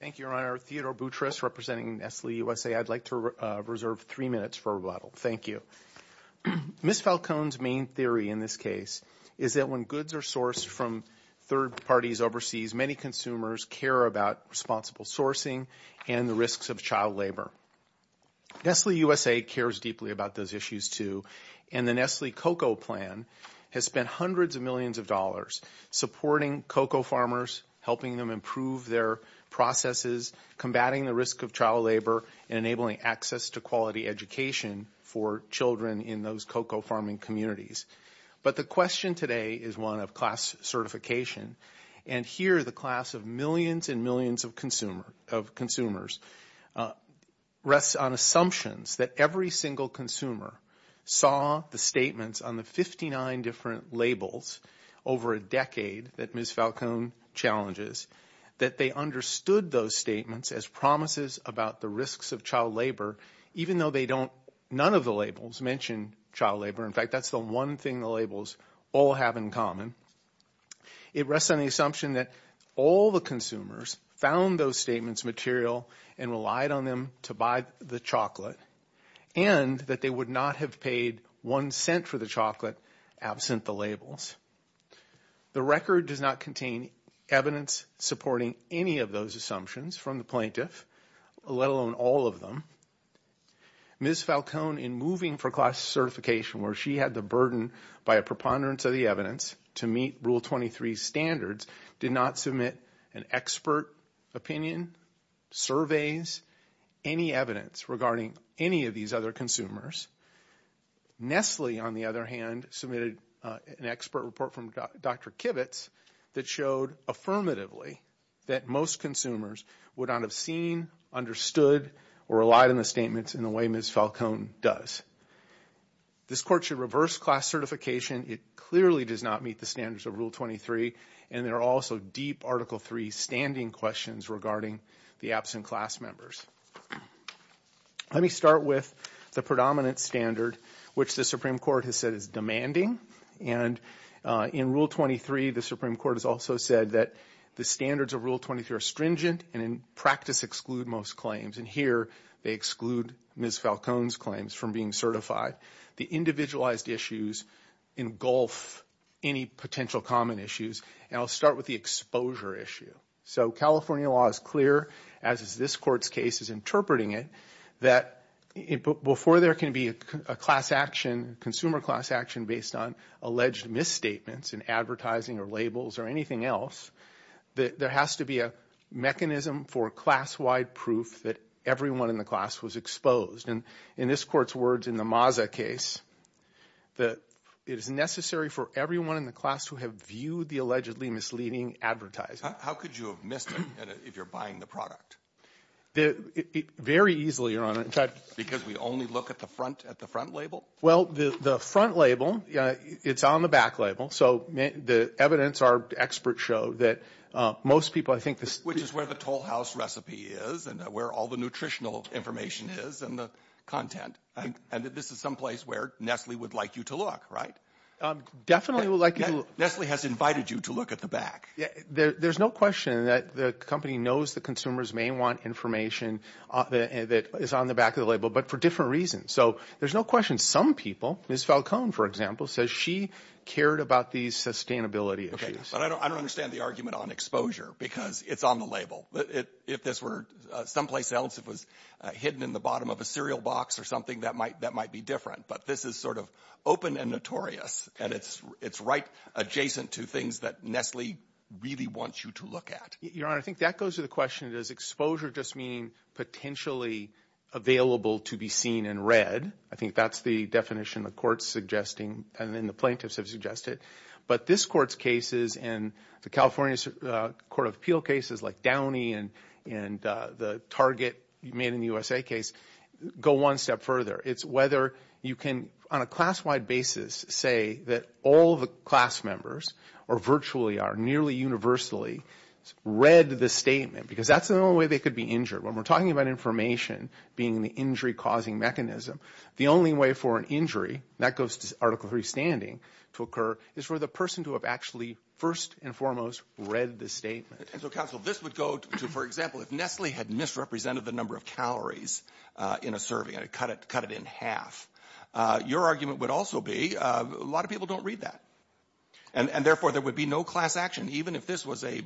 Thank you, Your Honor. Theodore Boutrous, representing Nestle USA. I'd like to reserve three minutes for rebuttal. Thank you. Ms. Falcone's main theory in this case is that when goods are sourced from third parties overseas, many consumers care about responsible sourcing and the risks of child labor. Nestle USA cares deeply about those issues, too, and the Nestle cocoa plan has spent hundreds of millions of dollars supporting cocoa farmers, helping them improve their processes, combating the risk of child labor, and enabling access to quality education for children in those cocoa farming communities. But the question today is one of class certification. And here the class of millions and millions of consumers rests on assumptions that every single consumer saw the statements on the 59 different labels over a decade that Ms. Falcone challenges, that they understood those statements as promises about the risks of child labor, even though none of the labels mention child labor. In fact, that's the one thing the labels all have in common. It rests on the assumption that all the consumers found those statements material and relied on them to buy the chocolate and that they would not have paid one cent for the chocolate absent the labels. The record does not contain evidence supporting any of those assumptions from the plaintiff, let alone all of them. Ms. Falcone, in moving for class certification where she had the burden by a preponderance of the evidence to meet Rule 23 standards, did not submit an expert opinion, surveys, any evidence regarding any of these other consumers. Nestle, on the other hand, submitted an expert report from Dr. Kivitz that showed affirmatively that most consumers would not have seen, understood, or relied on the statements in the way Ms. Falcone does. This court should reverse class certification. It clearly does not meet the standards of Rule 23. And there are also deep Article III standing questions regarding the absent class members. Let me start with the predominant standard, which the Supreme Court has said is demanding. And in Rule 23, the Supreme Court has also said that the standards of Rule 23 are stringent and in practice exclude most claims. And here they exclude Ms. Falcone's claims from being certified. The individualized issues engulf any potential common issues. And I'll start with the exposure issue. So California law is clear, as is this court's case is interpreting it, that before there can be a class action, consumer class action based on alleged misstatements in advertising or labels or anything else, there has to be a mechanism for class-wide proof that everyone in the class was exposed. And in this court's words in the Maza case, that it is necessary for everyone in the class who have viewed the allegedly misleading advertising. How could you have missed it if you're buying the product? Very easily, Your Honor. Because we only look at the front label? Well, the front label, it's on the back label. So the evidence our experts show that most people, I think this — and where all the nutritional information is and the content. And this is someplace where Nestle would like you to look, right? Definitely would like you to look. Nestle has invited you to look at the back. There's no question that the company knows the consumers may want information that is on the back of the label, but for different reasons. So there's no question some people, Ms. Falcone, for example, says she cared about these sustainability issues. But I don't understand the argument on exposure because it's on the label. If this were someplace else, it was hidden in the bottom of a cereal box or something, that might be different. But this is sort of open and notorious, and it's right adjacent to things that Nestle really wants you to look at. Your Honor, I think that goes to the question, does exposure just mean potentially available to be seen and read? I think that's the definition the court's suggesting and then the plaintiffs have suggested. But this Court's cases and the California Court of Appeal cases like Downey and the Target made in the USA case go one step further. It's whether you can, on a class-wide basis, say that all the class members, or virtually are, nearly universally read the statement because that's the only way they could be injured. When we're talking about information being the injury-causing mechanism, the only way for an injury that goes to Article III standing to occur is for the person to have actually first and foremost read the statement. And so, counsel, this would go to, for example, if Nestle had misrepresented the number of calories in a serving and cut it in half, your argument would also be a lot of people don't read that. And therefore, there would be no class action, even if this was a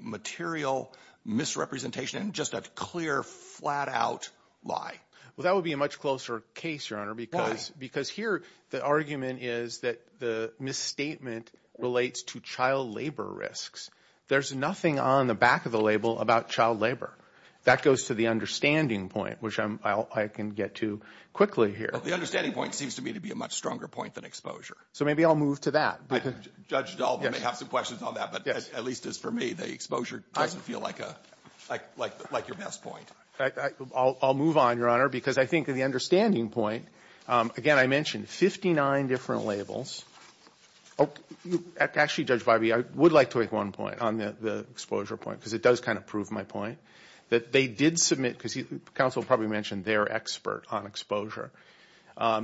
material misrepresentation, just a clear, flat-out lie. Well, that would be a much closer case, Your Honor. Because here the argument is that the misstatement relates to child labor risks. There's nothing on the back of the label about child labor. That goes to the understanding point, which I can get to quickly here. The understanding point seems to me to be a much stronger point than exposure. So maybe I'll move to that. Judge Dalton may have some questions on that, but at least as for me, the exposure doesn't feel like your best point. I'll move on, Your Honor, because I think the understanding point, again, I mentioned 59 different labels. Actually, Judge Barbee, I would like to make one point on the exposure point because it does kind of prove my point, that they did submit, because counsel probably mentioned their expert on exposure,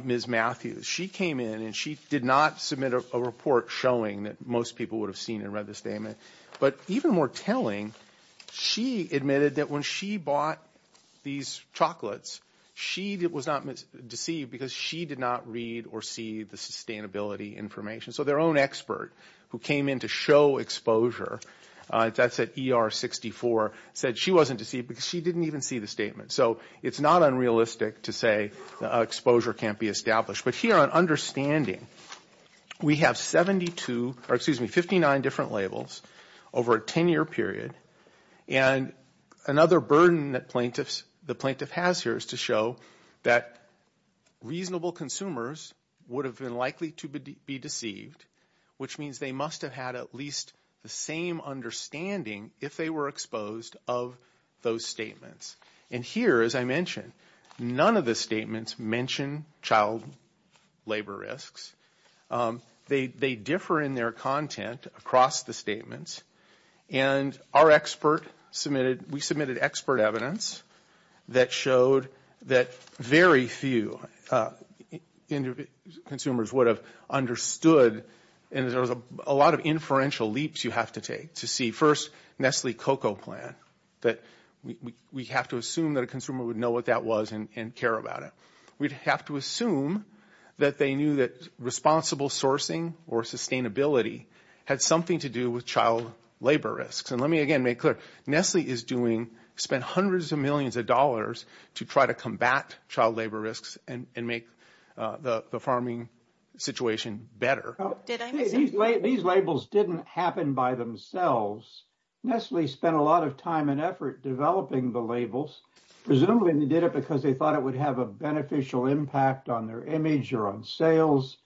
Ms. Matthews. She came in and she did not submit a report showing that most people would have seen and read the statement. But even more telling, she admitted that when she bought these chocolates, she was not deceived because she did not read or see the sustainability information. So their own expert who came in to show exposure, that's at ER 64, said she wasn't deceived because she didn't even see the statement. So it's not unrealistic to say exposure can't be established. But here on understanding, we have 59 different labels over a 10-year period. And another burden that the plaintiff has here is to show that reasonable consumers would have been likely to be deceived, which means they must have had at least the same understanding if they were exposed of those statements. And here, as I mentioned, none of the statements mention child labor risks. They differ in their content across the statements. And our expert submitted, we submitted expert evidence that showed that very few consumers would have understood, and there's a lot of inferential leaps you have to take to see first Nestle cocoa plan, that we have to assume that a consumer would know what that was and care about it. We'd have to assume that they knew that responsible sourcing or sustainability had something to do with child labor risks. And let me again make clear, Nestle is doing, spent hundreds of millions of dollars to try to combat child labor risks and make the farming situation better. These labels didn't happen by themselves. Nestle spent a lot of time and effort developing the labels. Presumably they did it because they thought it would have a beneficial impact on their image or on sales.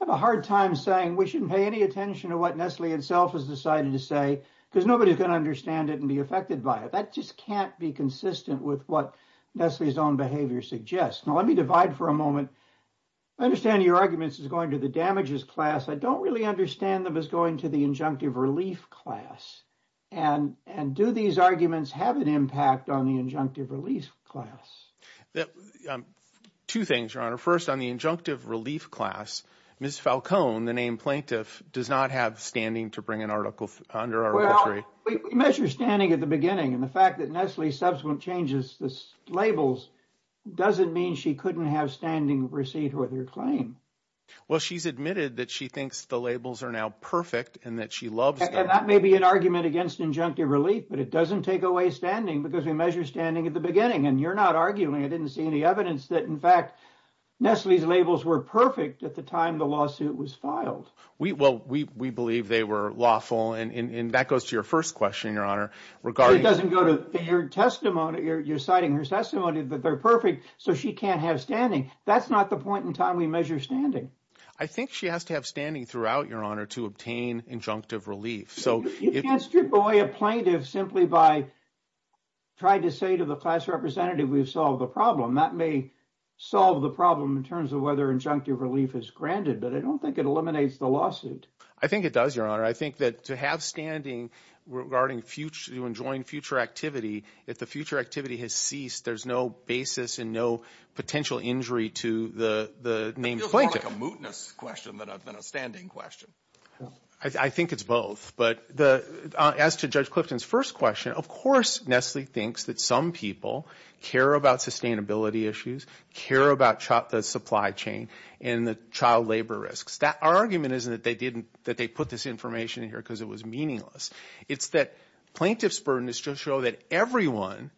I have a hard time saying we shouldn't pay any attention to what Nestle itself has decided to say because nobody's going to understand it and be affected by it. That just can't be consistent with what Nestle's own behavior suggests. Now let me divide for a moment. I understand your arguments is going to the damages class. I don't really understand them as going to the injunctive relief class. And do these arguments have an impact on the injunctive relief class? Two things, Your Honor. First, on the injunctive relief class, Ms. Falcone, the named plaintiff, does not have standing to bring an article under arbitration. Well, we measure standing at the beginning, and the fact that Nestle's subsequent changes the labels doesn't mean she couldn't have standing receipt with her claim. Well, she's admitted that she thinks the labels are now perfect and that she loves them. And that may be an argument against injunctive relief, but it doesn't take away standing because we measure standing at the beginning, and you're not arguing. I didn't see any evidence that, in fact, Nestle's labels were perfect at the time the lawsuit was filed. Well, we believe they were lawful, and that goes to your first question, Your Honor. You're citing her testimony that they're perfect, so she can't have standing. That's not the point in time we measure standing. I think she has to have standing throughout, Your Honor, to obtain injunctive relief. You can't strip away a plaintiff simply by trying to say to the class representative we've solved the problem. That may solve the problem in terms of whether injunctive relief is granted, but I don't think it eliminates the lawsuit. I think it does, Your Honor. I think that to have standing regarding future, to enjoin future activity, if the future activity has ceased, there's no basis and no potential injury to the named plaintiff. It feels more like a mootness question than a standing question. I think it's both. But as to Judge Clifton's first question, of course Nestle thinks that some people care about sustainability issues, care about the supply chain and the child labor risks. Our argument isn't that they put this information in here because it was meaningless. It's that plaintiff's burden is to show that everyone,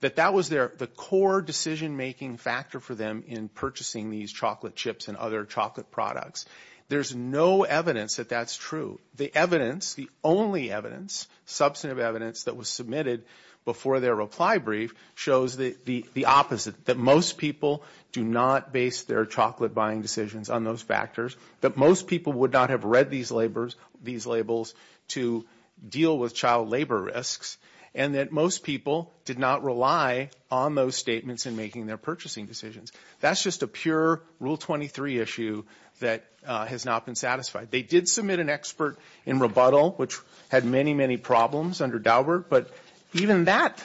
that that was the core decision-making factor for them in purchasing these chocolate chips and other chocolate products. There's no evidence that that's true. The evidence, the only evidence, substantive evidence that was submitted before their reply brief shows the opposite, that most people do not base their chocolate-buying decisions on those factors. That most people would not have read these labels to deal with child labor risks. And that most people did not rely on those statements in making their purchasing decisions. That's just a pure Rule 23 issue that has not been satisfied. They did submit an expert in rebuttal, which had many, many problems under Daubert. But even that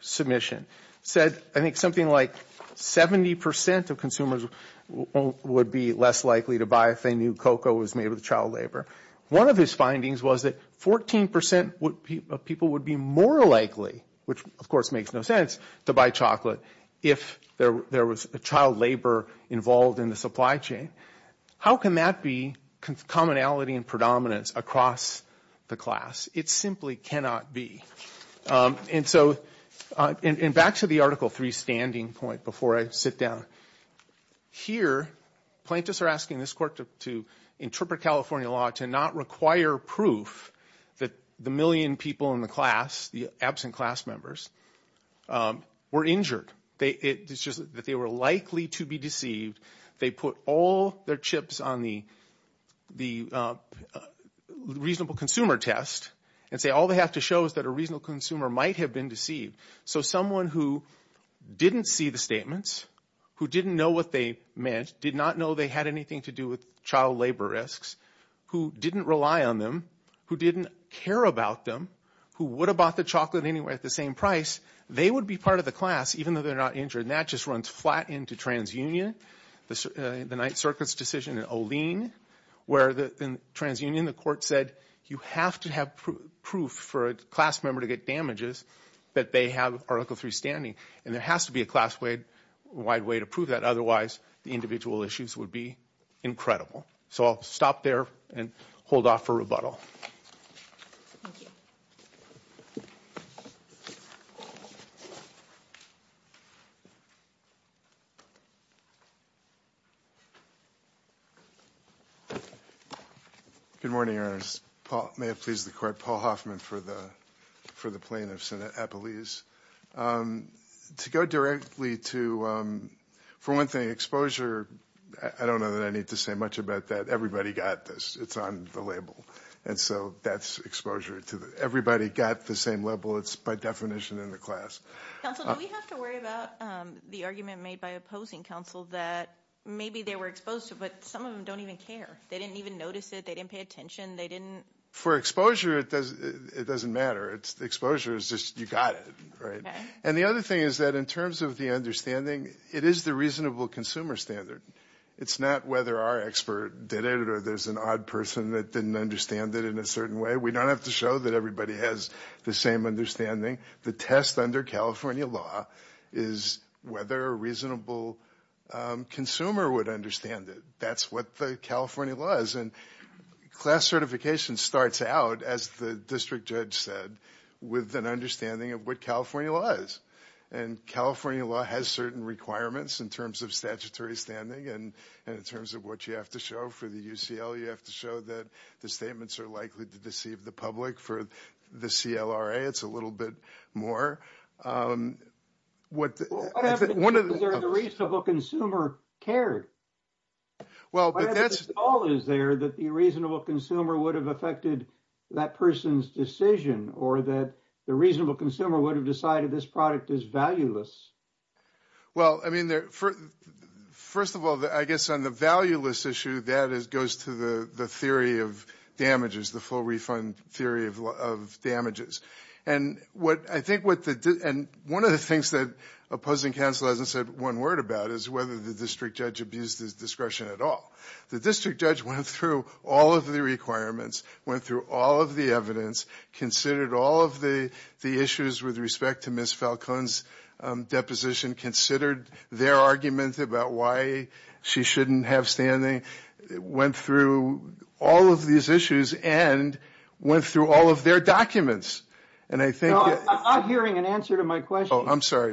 submission said I think something like 70% of consumers would be less likely to buy if they knew cocoa was made with child labor. One of his findings was that 14% of people would be more likely, which of course makes no sense, to buy chocolate if there was child labor involved in the supply chain. How can that be commonality and predominance across the class? It simply cannot be. And so back to the Article 3 standing point before I sit down. Here plaintiffs are asking this court to interpret California law to not require proof that the million people in the class, the absent class members, were injured. It's just that they were likely to be deceived. They put all their chips on the reasonable consumer test and say all they have to show is that a reasonable consumer might have been deceived. So someone who didn't see the statements, who didn't know what they meant, did not know they had anything to do with child labor risks, who didn't rely on them, who didn't care about them, who would have bought the chocolate anyway at the same price, they would be part of the class even though they're not injured. And that just runs flat into TransUnion, the Ninth Circuit's decision in Olin, where in TransUnion the court said you have to have proof for a class member to get damages that they have Article 3 standing. And there has to be a class-wide way to prove that. Otherwise, the individual issues would be incredible. So I'll stop there and hold off for rebuttal. Thank you. Good morning, Your Honors. May it please the Court, Paul Hoffman for the plaintiff, Senate Appelese. To go directly to, for one thing, exposure, I don't know that I need to say much about that. Everybody got this. It's on the label. And so that's exposure. Everybody got the same level. It's by definition in the class. Counsel, do we have to worry about the argument made by opposing counsel that maybe they were exposed to, but some of them don't even care. They didn't even notice it. They didn't pay attention. They didn't – For exposure, it doesn't matter. Exposure is just you got it, right? And the other thing is that in terms of the understanding, it is the reasonable consumer standard. It's not whether our expert did it or there's an odd person that didn't understand it in a certain way. We don't have to show that everybody has the same understanding. The test under California law is whether a reasonable consumer would understand it. That's what the California law is. And class certification starts out, as the district judge said, with an understanding of what California law is. And California law has certain requirements in terms of statutory standing and in terms of what you have to show for the UCL. You have to show that the statements are likely to deceive the public. For the CLRA, it's a little bit more. Whatever the case is, the reasonable consumer cared. Whatever the call is there that the reasonable consumer would have affected that person's decision or that the reasonable consumer would have decided this product is valueless. Well, I mean, first of all, I guess on the valueless issue, that goes to the theory of damages, the full refund theory of damages. And I think what the – and one of the things that opposing counsel hasn't said one word about is whether the district judge abused his discretion at all. The district judge went through all of the requirements, went through all of the evidence, considered all of the issues with respect to Ms. Falcone's deposition, considered their argument about why she shouldn't have standing, went through all of these issues and went through all of their documents. And I think – No, I'm not hearing an answer to my question. Oh, I'm sorry.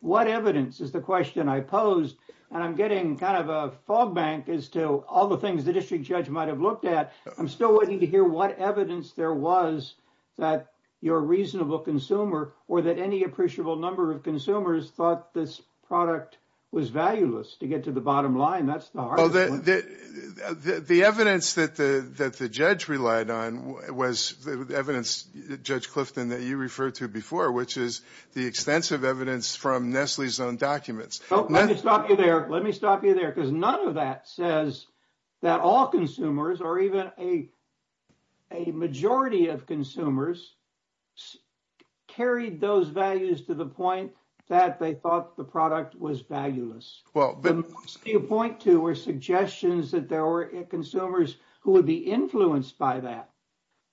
What evidence is the question I posed? And I'm getting kind of a fog bank as to all the things the district judge might have looked at. I'm still waiting to hear what evidence there was that your reasonable consumer or that any appreciable number of consumers thought this product was valueless to get to the bottom line. That's the hard part. The evidence that the judge relied on was the evidence, Judge Clifton, that you referred to before, which is the extensive evidence from Nestle's own documents. Let me stop you there. Let me stop you there because none of that says that all consumers or even a majority of consumers carried those values to the point that they thought the product was valueless. What you point to were suggestions that there were consumers who would be influenced by that.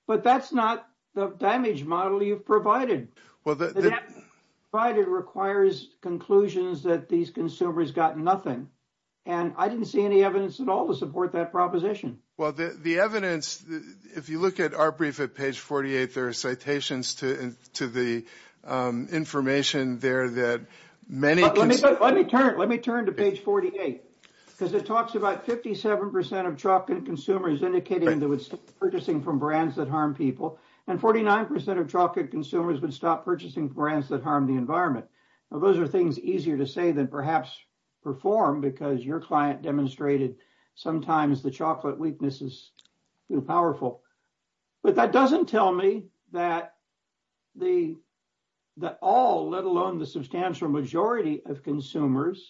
But that's not the damage model you've provided. Well, the – That requires conclusions that these consumers got nothing. And I didn't see any evidence at all to support that proposition. Well, the evidence, if you look at our brief at page 48, there are citations to the information there that many – Let me turn to page 48 because it talks about 57 percent of Chopkin consumers indicating they would stop purchasing from brands that harm people. And 49 percent of Chopkin consumers would stop purchasing from brands that harm the environment. Now, those are things easier to say than perhaps perform because your client demonstrated sometimes the Chocolate Weakness is powerful. But that doesn't tell me that all, let alone the substantial majority of consumers,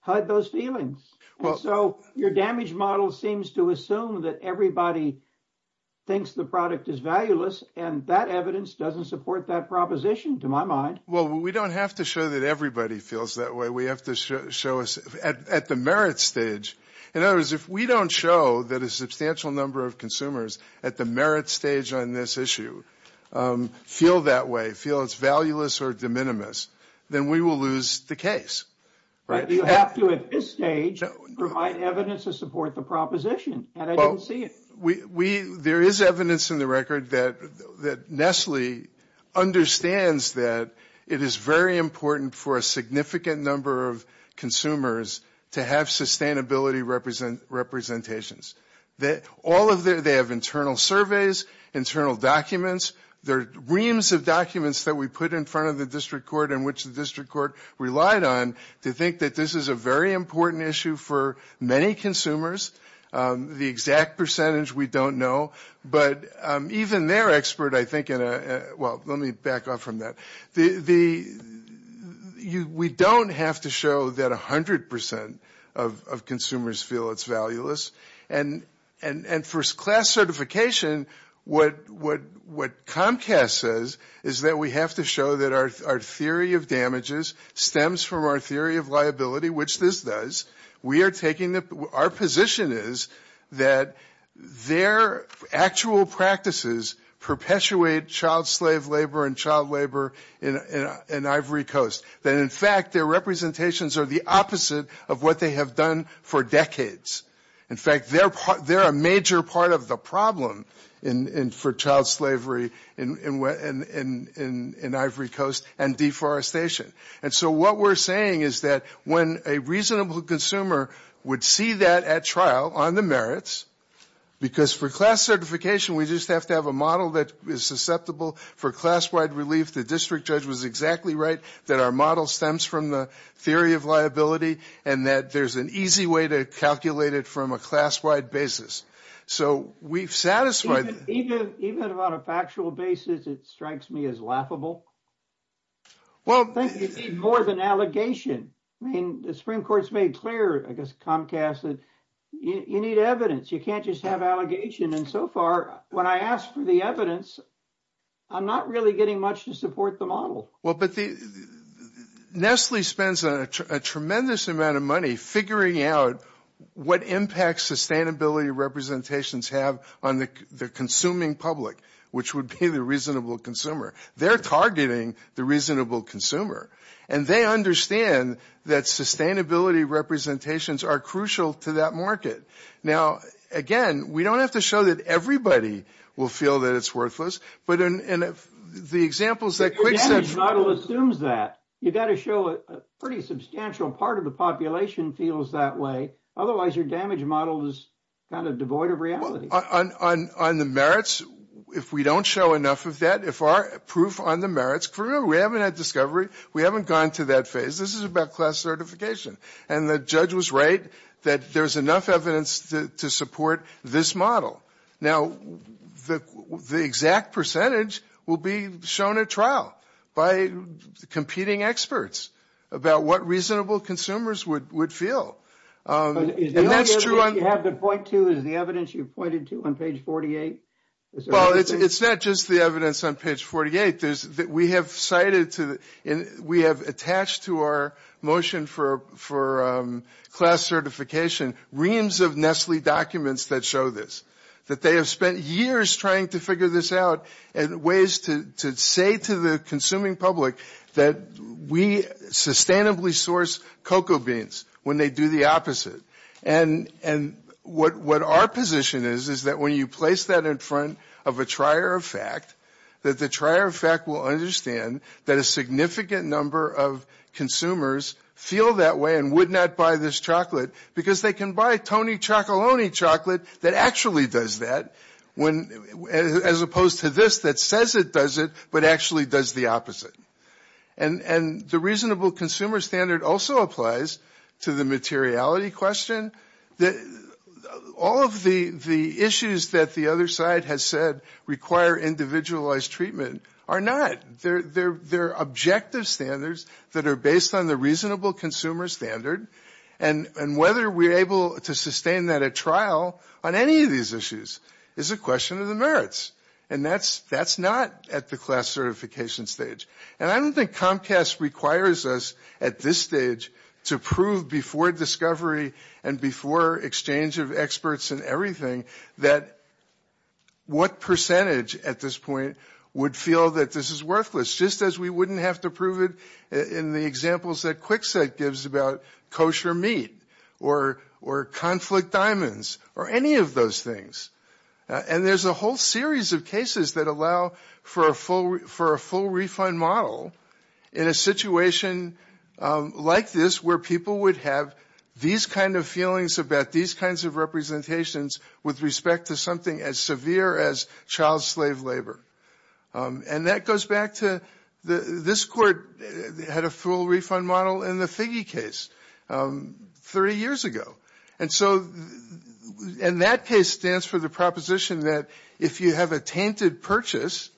had those feelings. And so your damage model seems to assume that everybody thinks the product is valueless, and that evidence doesn't support that proposition to my mind. Well, we don't have to show that everybody feels that way. We have to show us at the merit stage. In other words, if we don't show that a substantial number of consumers at the merit stage on this issue feel that way, feel it's valueless or de minimis, then we will lose the case. But you have to at this stage provide evidence to support the proposition, and I don't see it. There is evidence in the record that Nestle understands that it is very important for a significant number of consumers to have sustainability representations. All of their – they have internal surveys, internal documents. There are reams of documents that we put in front of the district court in which the district court relied on to think that this is a very important issue for many consumers. The exact percentage we don't know, but even their expert I think in a – well, let me back off from that. We don't have to show that 100% of consumers feel it's valueless. And for class certification, what Comcast says is that we have to show that our theory of damages stems from our theory of liability, which this does. We are taking – our position is that their actual practices perpetuate child slave labor and child labor in Ivory Coast, that in fact their representations are the opposite of what they have done for decades. In fact, they're a major part of the problem for child slavery in Ivory Coast and deforestation. And so what we're saying is that when a reasonable consumer would see that at trial on the merits, because for class certification we just have to have a model that is susceptible for class-wide relief. The district judge was exactly right that our model stems from the theory of liability and that there's an easy way to calculate it from a class-wide basis. So we've satisfied – Even on a factual basis, it strikes me as laughable. Well – I think you need more than allegation. I mean, the Supreme Court's made clear, I guess Comcast, that you need evidence. You can't just have allegation. And so far, when I ask for the evidence, I'm not really getting much to support the model. Well, but Nestle spends a tremendous amount of money figuring out what impact sustainability representations have on the consuming public, which would be the reasonable consumer. They're targeting the reasonable consumer. And they understand that sustainability representations are crucial to that market. Now, again, we don't have to show that everybody will feel that it's worthless. But in the examples that – Your damage model assumes that. You've got to show a pretty substantial part of the population feels that way. Otherwise, your damage model is kind of devoid of reality. On the merits, if we don't show enough of that, if our proof on the merits – Remember, we haven't had discovery. We haven't gone to that phase. This is about class certification. And the judge was right that there's enough evidence to support this model. Now, the exact percentage will be shown at trial by competing experts about what reasonable consumers would feel. And that's true – Is the only evidence you have to point to is the evidence you've pointed to on page 48? Well, it's not just the evidence on page 48. We have cited – we have attached to our motion for class certification reams of Nestle documents that show this. That they have spent years trying to figure this out and ways to say to the consuming public that we sustainably source cocoa beans when they do the opposite. And what our position is is that when you place that in front of a trier of fact, that the trier of fact will understand that a significant number of consumers feel that way and would not buy this chocolate because they can buy Tony Chocolony chocolate that actually does that as opposed to this that says it does it but actually does the opposite. And the reasonable consumer standard also applies to the materiality question. All of the issues that the other side has said require individualized treatment are not. They're objective standards that are based on the reasonable consumer standard and whether we're able to sustain that at trial on any of these issues is a question of the merits. And that's not at the class certification stage. And I don't think Comcast requires us at this stage to prove before discovery and before exchange of experts and everything that what percentage at this point would feel that this is worthless just as we wouldn't have to prove it in the examples that Kwikset gives about kosher meat or conflict diamonds or any of those things. And there's a whole series of cases that allow for a full refund model in a situation like this where people would have these kind of feelings about these kinds of representations with respect to something as severe as child slave labor. And that goes back to this court had a full refund model in the Figge case 30 years ago. And that case stands for the proposition that if you have a tainted purchase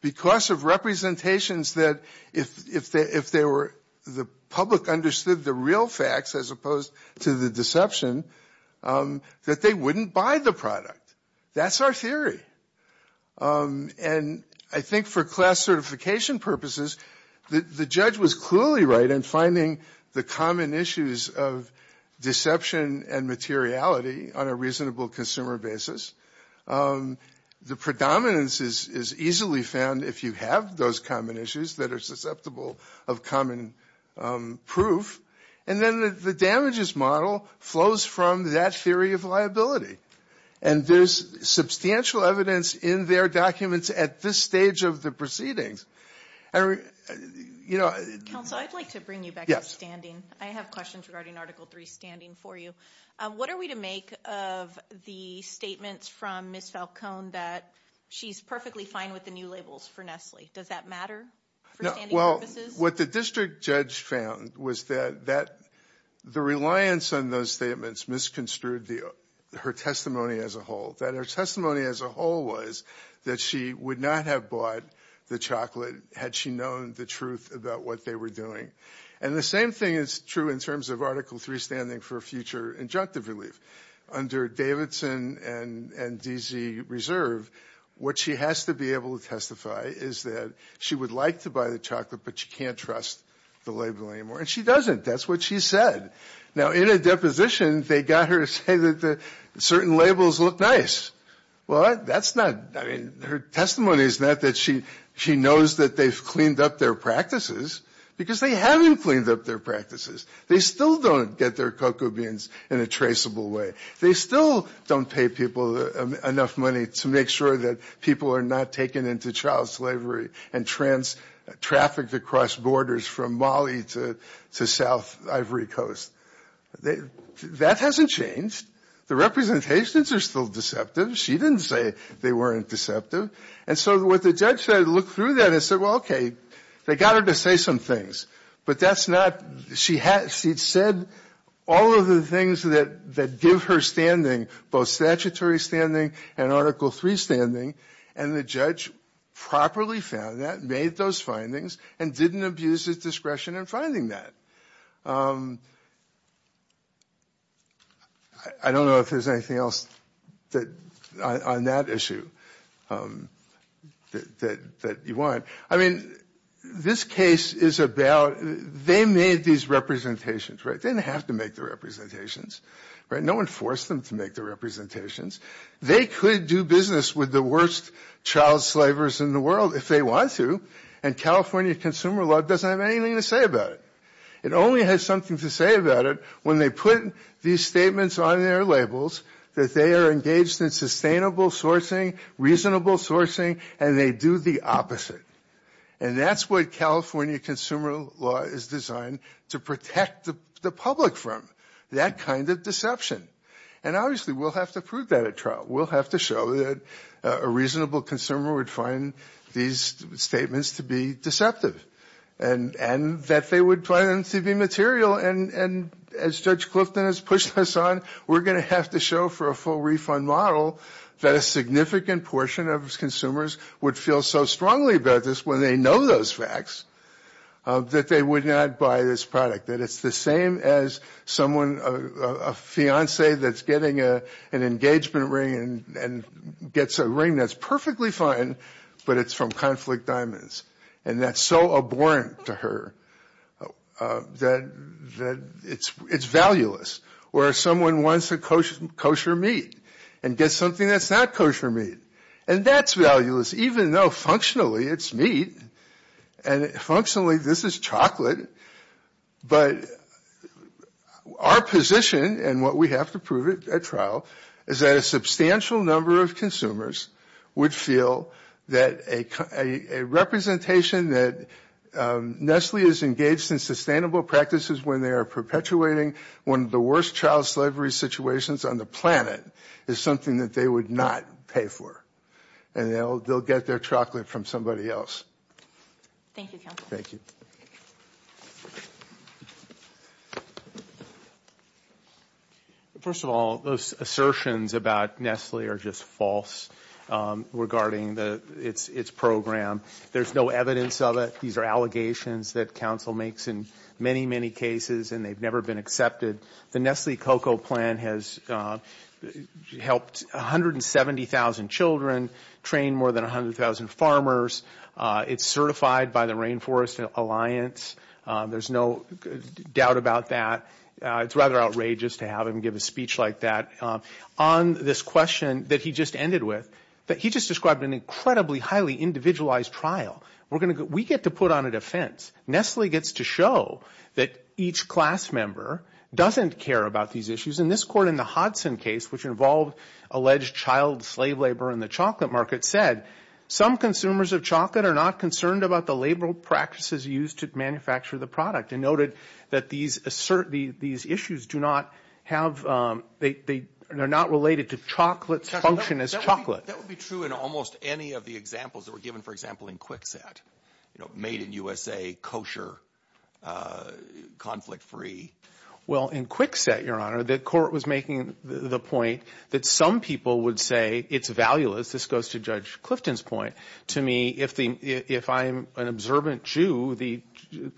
because of representations that if the public understood the real facts as opposed to the deception, that they wouldn't buy the product. That's our theory. And I think for class certification purposes, the judge was clearly right in finding the common issues of deception and materiality on a reasonable consumer basis. The predominance is easily found if you have those common issues that are susceptible of common proof. And then the damages model flows from that theory of liability. And there's substantial evidence in their documents at this stage of the proceedings. Counsel, I'd like to bring you back to standing. I have questions regarding Article 3 standing for you. What are we to make of the statements from Ms. Falcone that she's perfectly fine with the new labels for Nestle? Does that matter for standing purposes? Well, what the district judge found was that the reliance on those statements misconstrued her testimony as a whole. That her testimony as a whole was that she would not have bought the chocolate had she known the truth about what they were doing. And the same thing is true in terms of Article 3 standing for future injunctive relief. Under Davidson and DZ Reserve, what she has to be able to testify is that she would like to buy the chocolate but she can't trust the label anymore. And she doesn't. That's what she said. Now, in a deposition, they got her to say that certain labels look nice. Well, that's not, I mean, her testimony is not that she knows that they've cleaned up their practices because they haven't cleaned up their practices. They still don't get their cocoa beans in a traceable way. They still don't pay people enough money to make sure that people are not taken into child slavery and trafficked across borders from Mali to South Ivory Coast. That hasn't changed. The representations are still deceptive. She didn't say they weren't deceptive. And so what the judge said, looked through that and said, well, okay, they got her to say some things. But that's not, she said all of the things that give her standing, both statutory standing and Article III standing, and the judge properly found that, made those findings, and didn't abuse his discretion in finding that. I don't know if there's anything else on that issue that you want. I mean, this case is about, they made these representations. They didn't have to make the representations. No one forced them to make the representations. They could do business with the worst child slavers in the world if they want to, and California Consumer Law doesn't have anything to say about it. It only has something to say about it when they put these statements on their labels, that they are engaged in sustainable sourcing, reasonable sourcing, and they do the opposite. And that's what California Consumer Law is designed to protect the public from, that kind of deception. And obviously we'll have to prove that at trial. We'll have to show that a reasonable consumer would find these statements to be deceptive, and that they would find them to be material. And as Judge Clifton has pushed us on, we're going to have to show for a full refund model that a significant portion of consumers would feel so strongly about this when they know those facts, that they would not buy this product. That it's the same as someone, a fiancé that's getting an engagement ring and gets a ring that's perfectly fine, but it's from Conflict Diamonds. And that's so abhorrent to her that it's valueless. Or someone wants a kosher meat and gets something that's not kosher meat, and that's valueless even though functionally it's meat, and functionally this is chocolate. But our position, and what we have to prove at trial, is that a substantial number of consumers would feel that a representation that Nestle is engaged in sustainable practices when they are perpetuating one of the worst child slavery situations on the planet is something that they would not pay for. And they'll get their chocolate from somebody else. Thank you, counsel. Thank you. Thank you. First of all, those assertions about Nestle are just false regarding its program. There's no evidence of it. These are allegations that counsel makes in many, many cases, and they've never been accepted. The Nestle cocoa plan has helped 170,000 children, trained more than 100,000 farmers. It's certified by the Rainforest Alliance. There's no doubt about that. It's rather outrageous to have him give a speech like that. On this question that he just ended with, he just described an incredibly highly individualized trial. We get to put on a defense. Nestle gets to show that each class member doesn't care about these issues. And this court in the Hodson case, which involved alleged child slave labor in the chocolate market, said some consumers of chocolate are not concerned about the labor practices used to manufacture the product and noted that these issues do not have they're not related to chocolate's function as chocolate. That would be true in almost any of the examples that were given, for example, in Kwikset, you know, made in USA, kosher, conflict-free. Well, in Kwikset, Your Honor, the court was making the point that some people would say it's valueless. This goes to Judge Clifton's point. To me, if I'm an observant Jew, the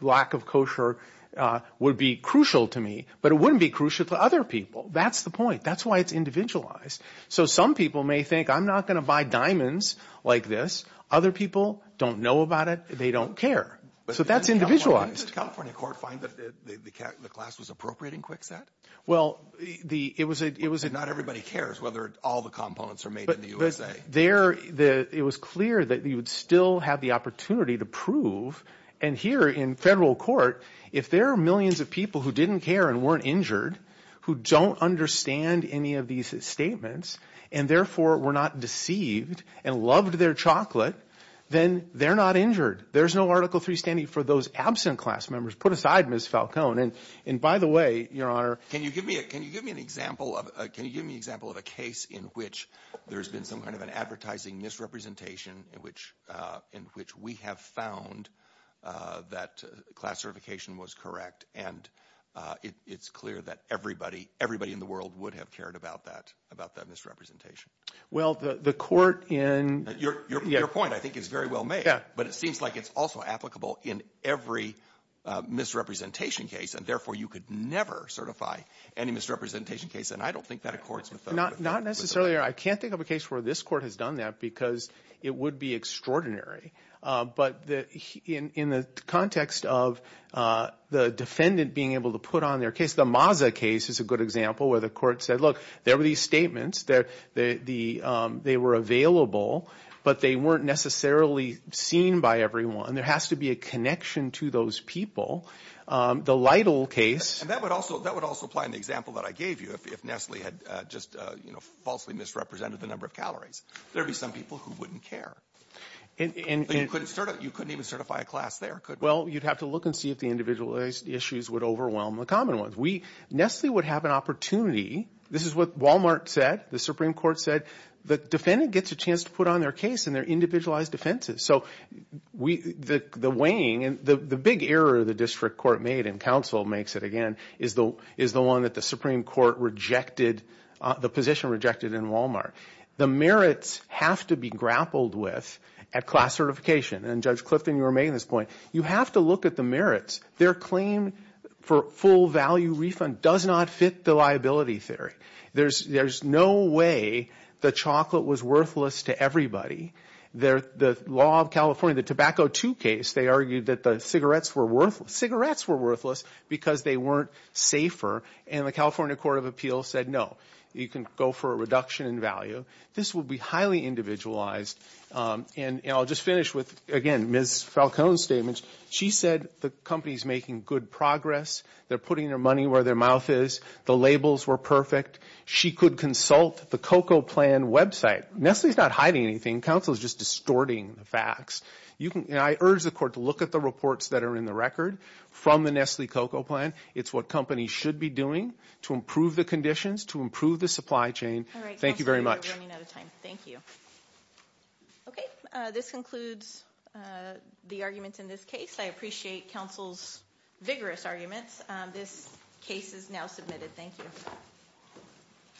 lack of kosher would be crucial to me, but it wouldn't be crucial to other people. That's the point. That's why it's individualized. So some people may think I'm not going to buy diamonds like this. Other people don't know about it. They don't care. So that's individualized. Didn't the California court find that the class was appropriating Kwikset? Not everybody cares whether all the components are made in the USA. It was clear that you would still have the opportunity to prove, and here in federal court, if there are millions of people who didn't care and weren't injured, who don't understand any of these statements and, therefore, were not deceived and loved their chocolate, then they're not injured. There's no Article III standing for those absent class members. Put aside Ms. Falcone. And, by the way, Your Honor. Can you give me an example of a case in which there's been some kind of an advertising misrepresentation in which we have found that class certification was correct and it's clear that everybody in the world would have cared about that misrepresentation? Well, the court in... Your point, I think, is very well made, but it seems like it's also applicable in every misrepresentation case, and, therefore, you could never certify any misrepresentation case, and I don't think that accords with that. Not necessarily. I can't think of a case where this court has done that because it would be extraordinary. But in the context of the defendant being able to put on their case, the Maza case is a good example where the court said, look, there were these statements. They were available, but they weren't necessarily seen by everyone. There has to be a connection to those people. The Lytle case... And that would also apply in the example that I gave you. If Nestle had just falsely misrepresented the number of calories, there would be some people who wouldn't care. You couldn't even certify a class there, could we? Well, you'd have to look and see if the individualized issues would overwhelm the common ones. Nestle would have an opportunity. This is what Wal-Mart said. The Supreme Court said the defendant gets a chance to put on their case in their individualized defenses. So the weighing... The big error the district court made, and counsel makes it again, is the one that the Supreme Court rejected, the position rejected in Wal-Mart. The merits have to be grappled with at class certification. And, Judge Clifton, you were making this point. You have to look at the merits. Their claim for full-value refund does not fit the liability theory. There's no way the chocolate was worthless to everybody. The law of California, the Tobacco II case, they argued that the cigarettes were worthless because they weren't safer. And the California Court of Appeals said, no, you can go for a reduction in value. This would be highly individualized. And I'll just finish with, again, Ms. Falcone's statements. She said the company's making good progress. They're putting their money where their mouth is. The labels were perfect. She could consult the COCO plan website. Nestle's not hiding anything. Counsel is just distorting the facts. I urge the court to look at the reports that are in the record from the Nestle COCO plan. It's what companies should be doing to improve the conditions, to improve the supply chain. Thank you very much. All right, counsel, you're running out of time. Thank you. Okay, this concludes the arguments in this case. I appreciate counsel's vigorous arguments. This case is now submitted. Thank you.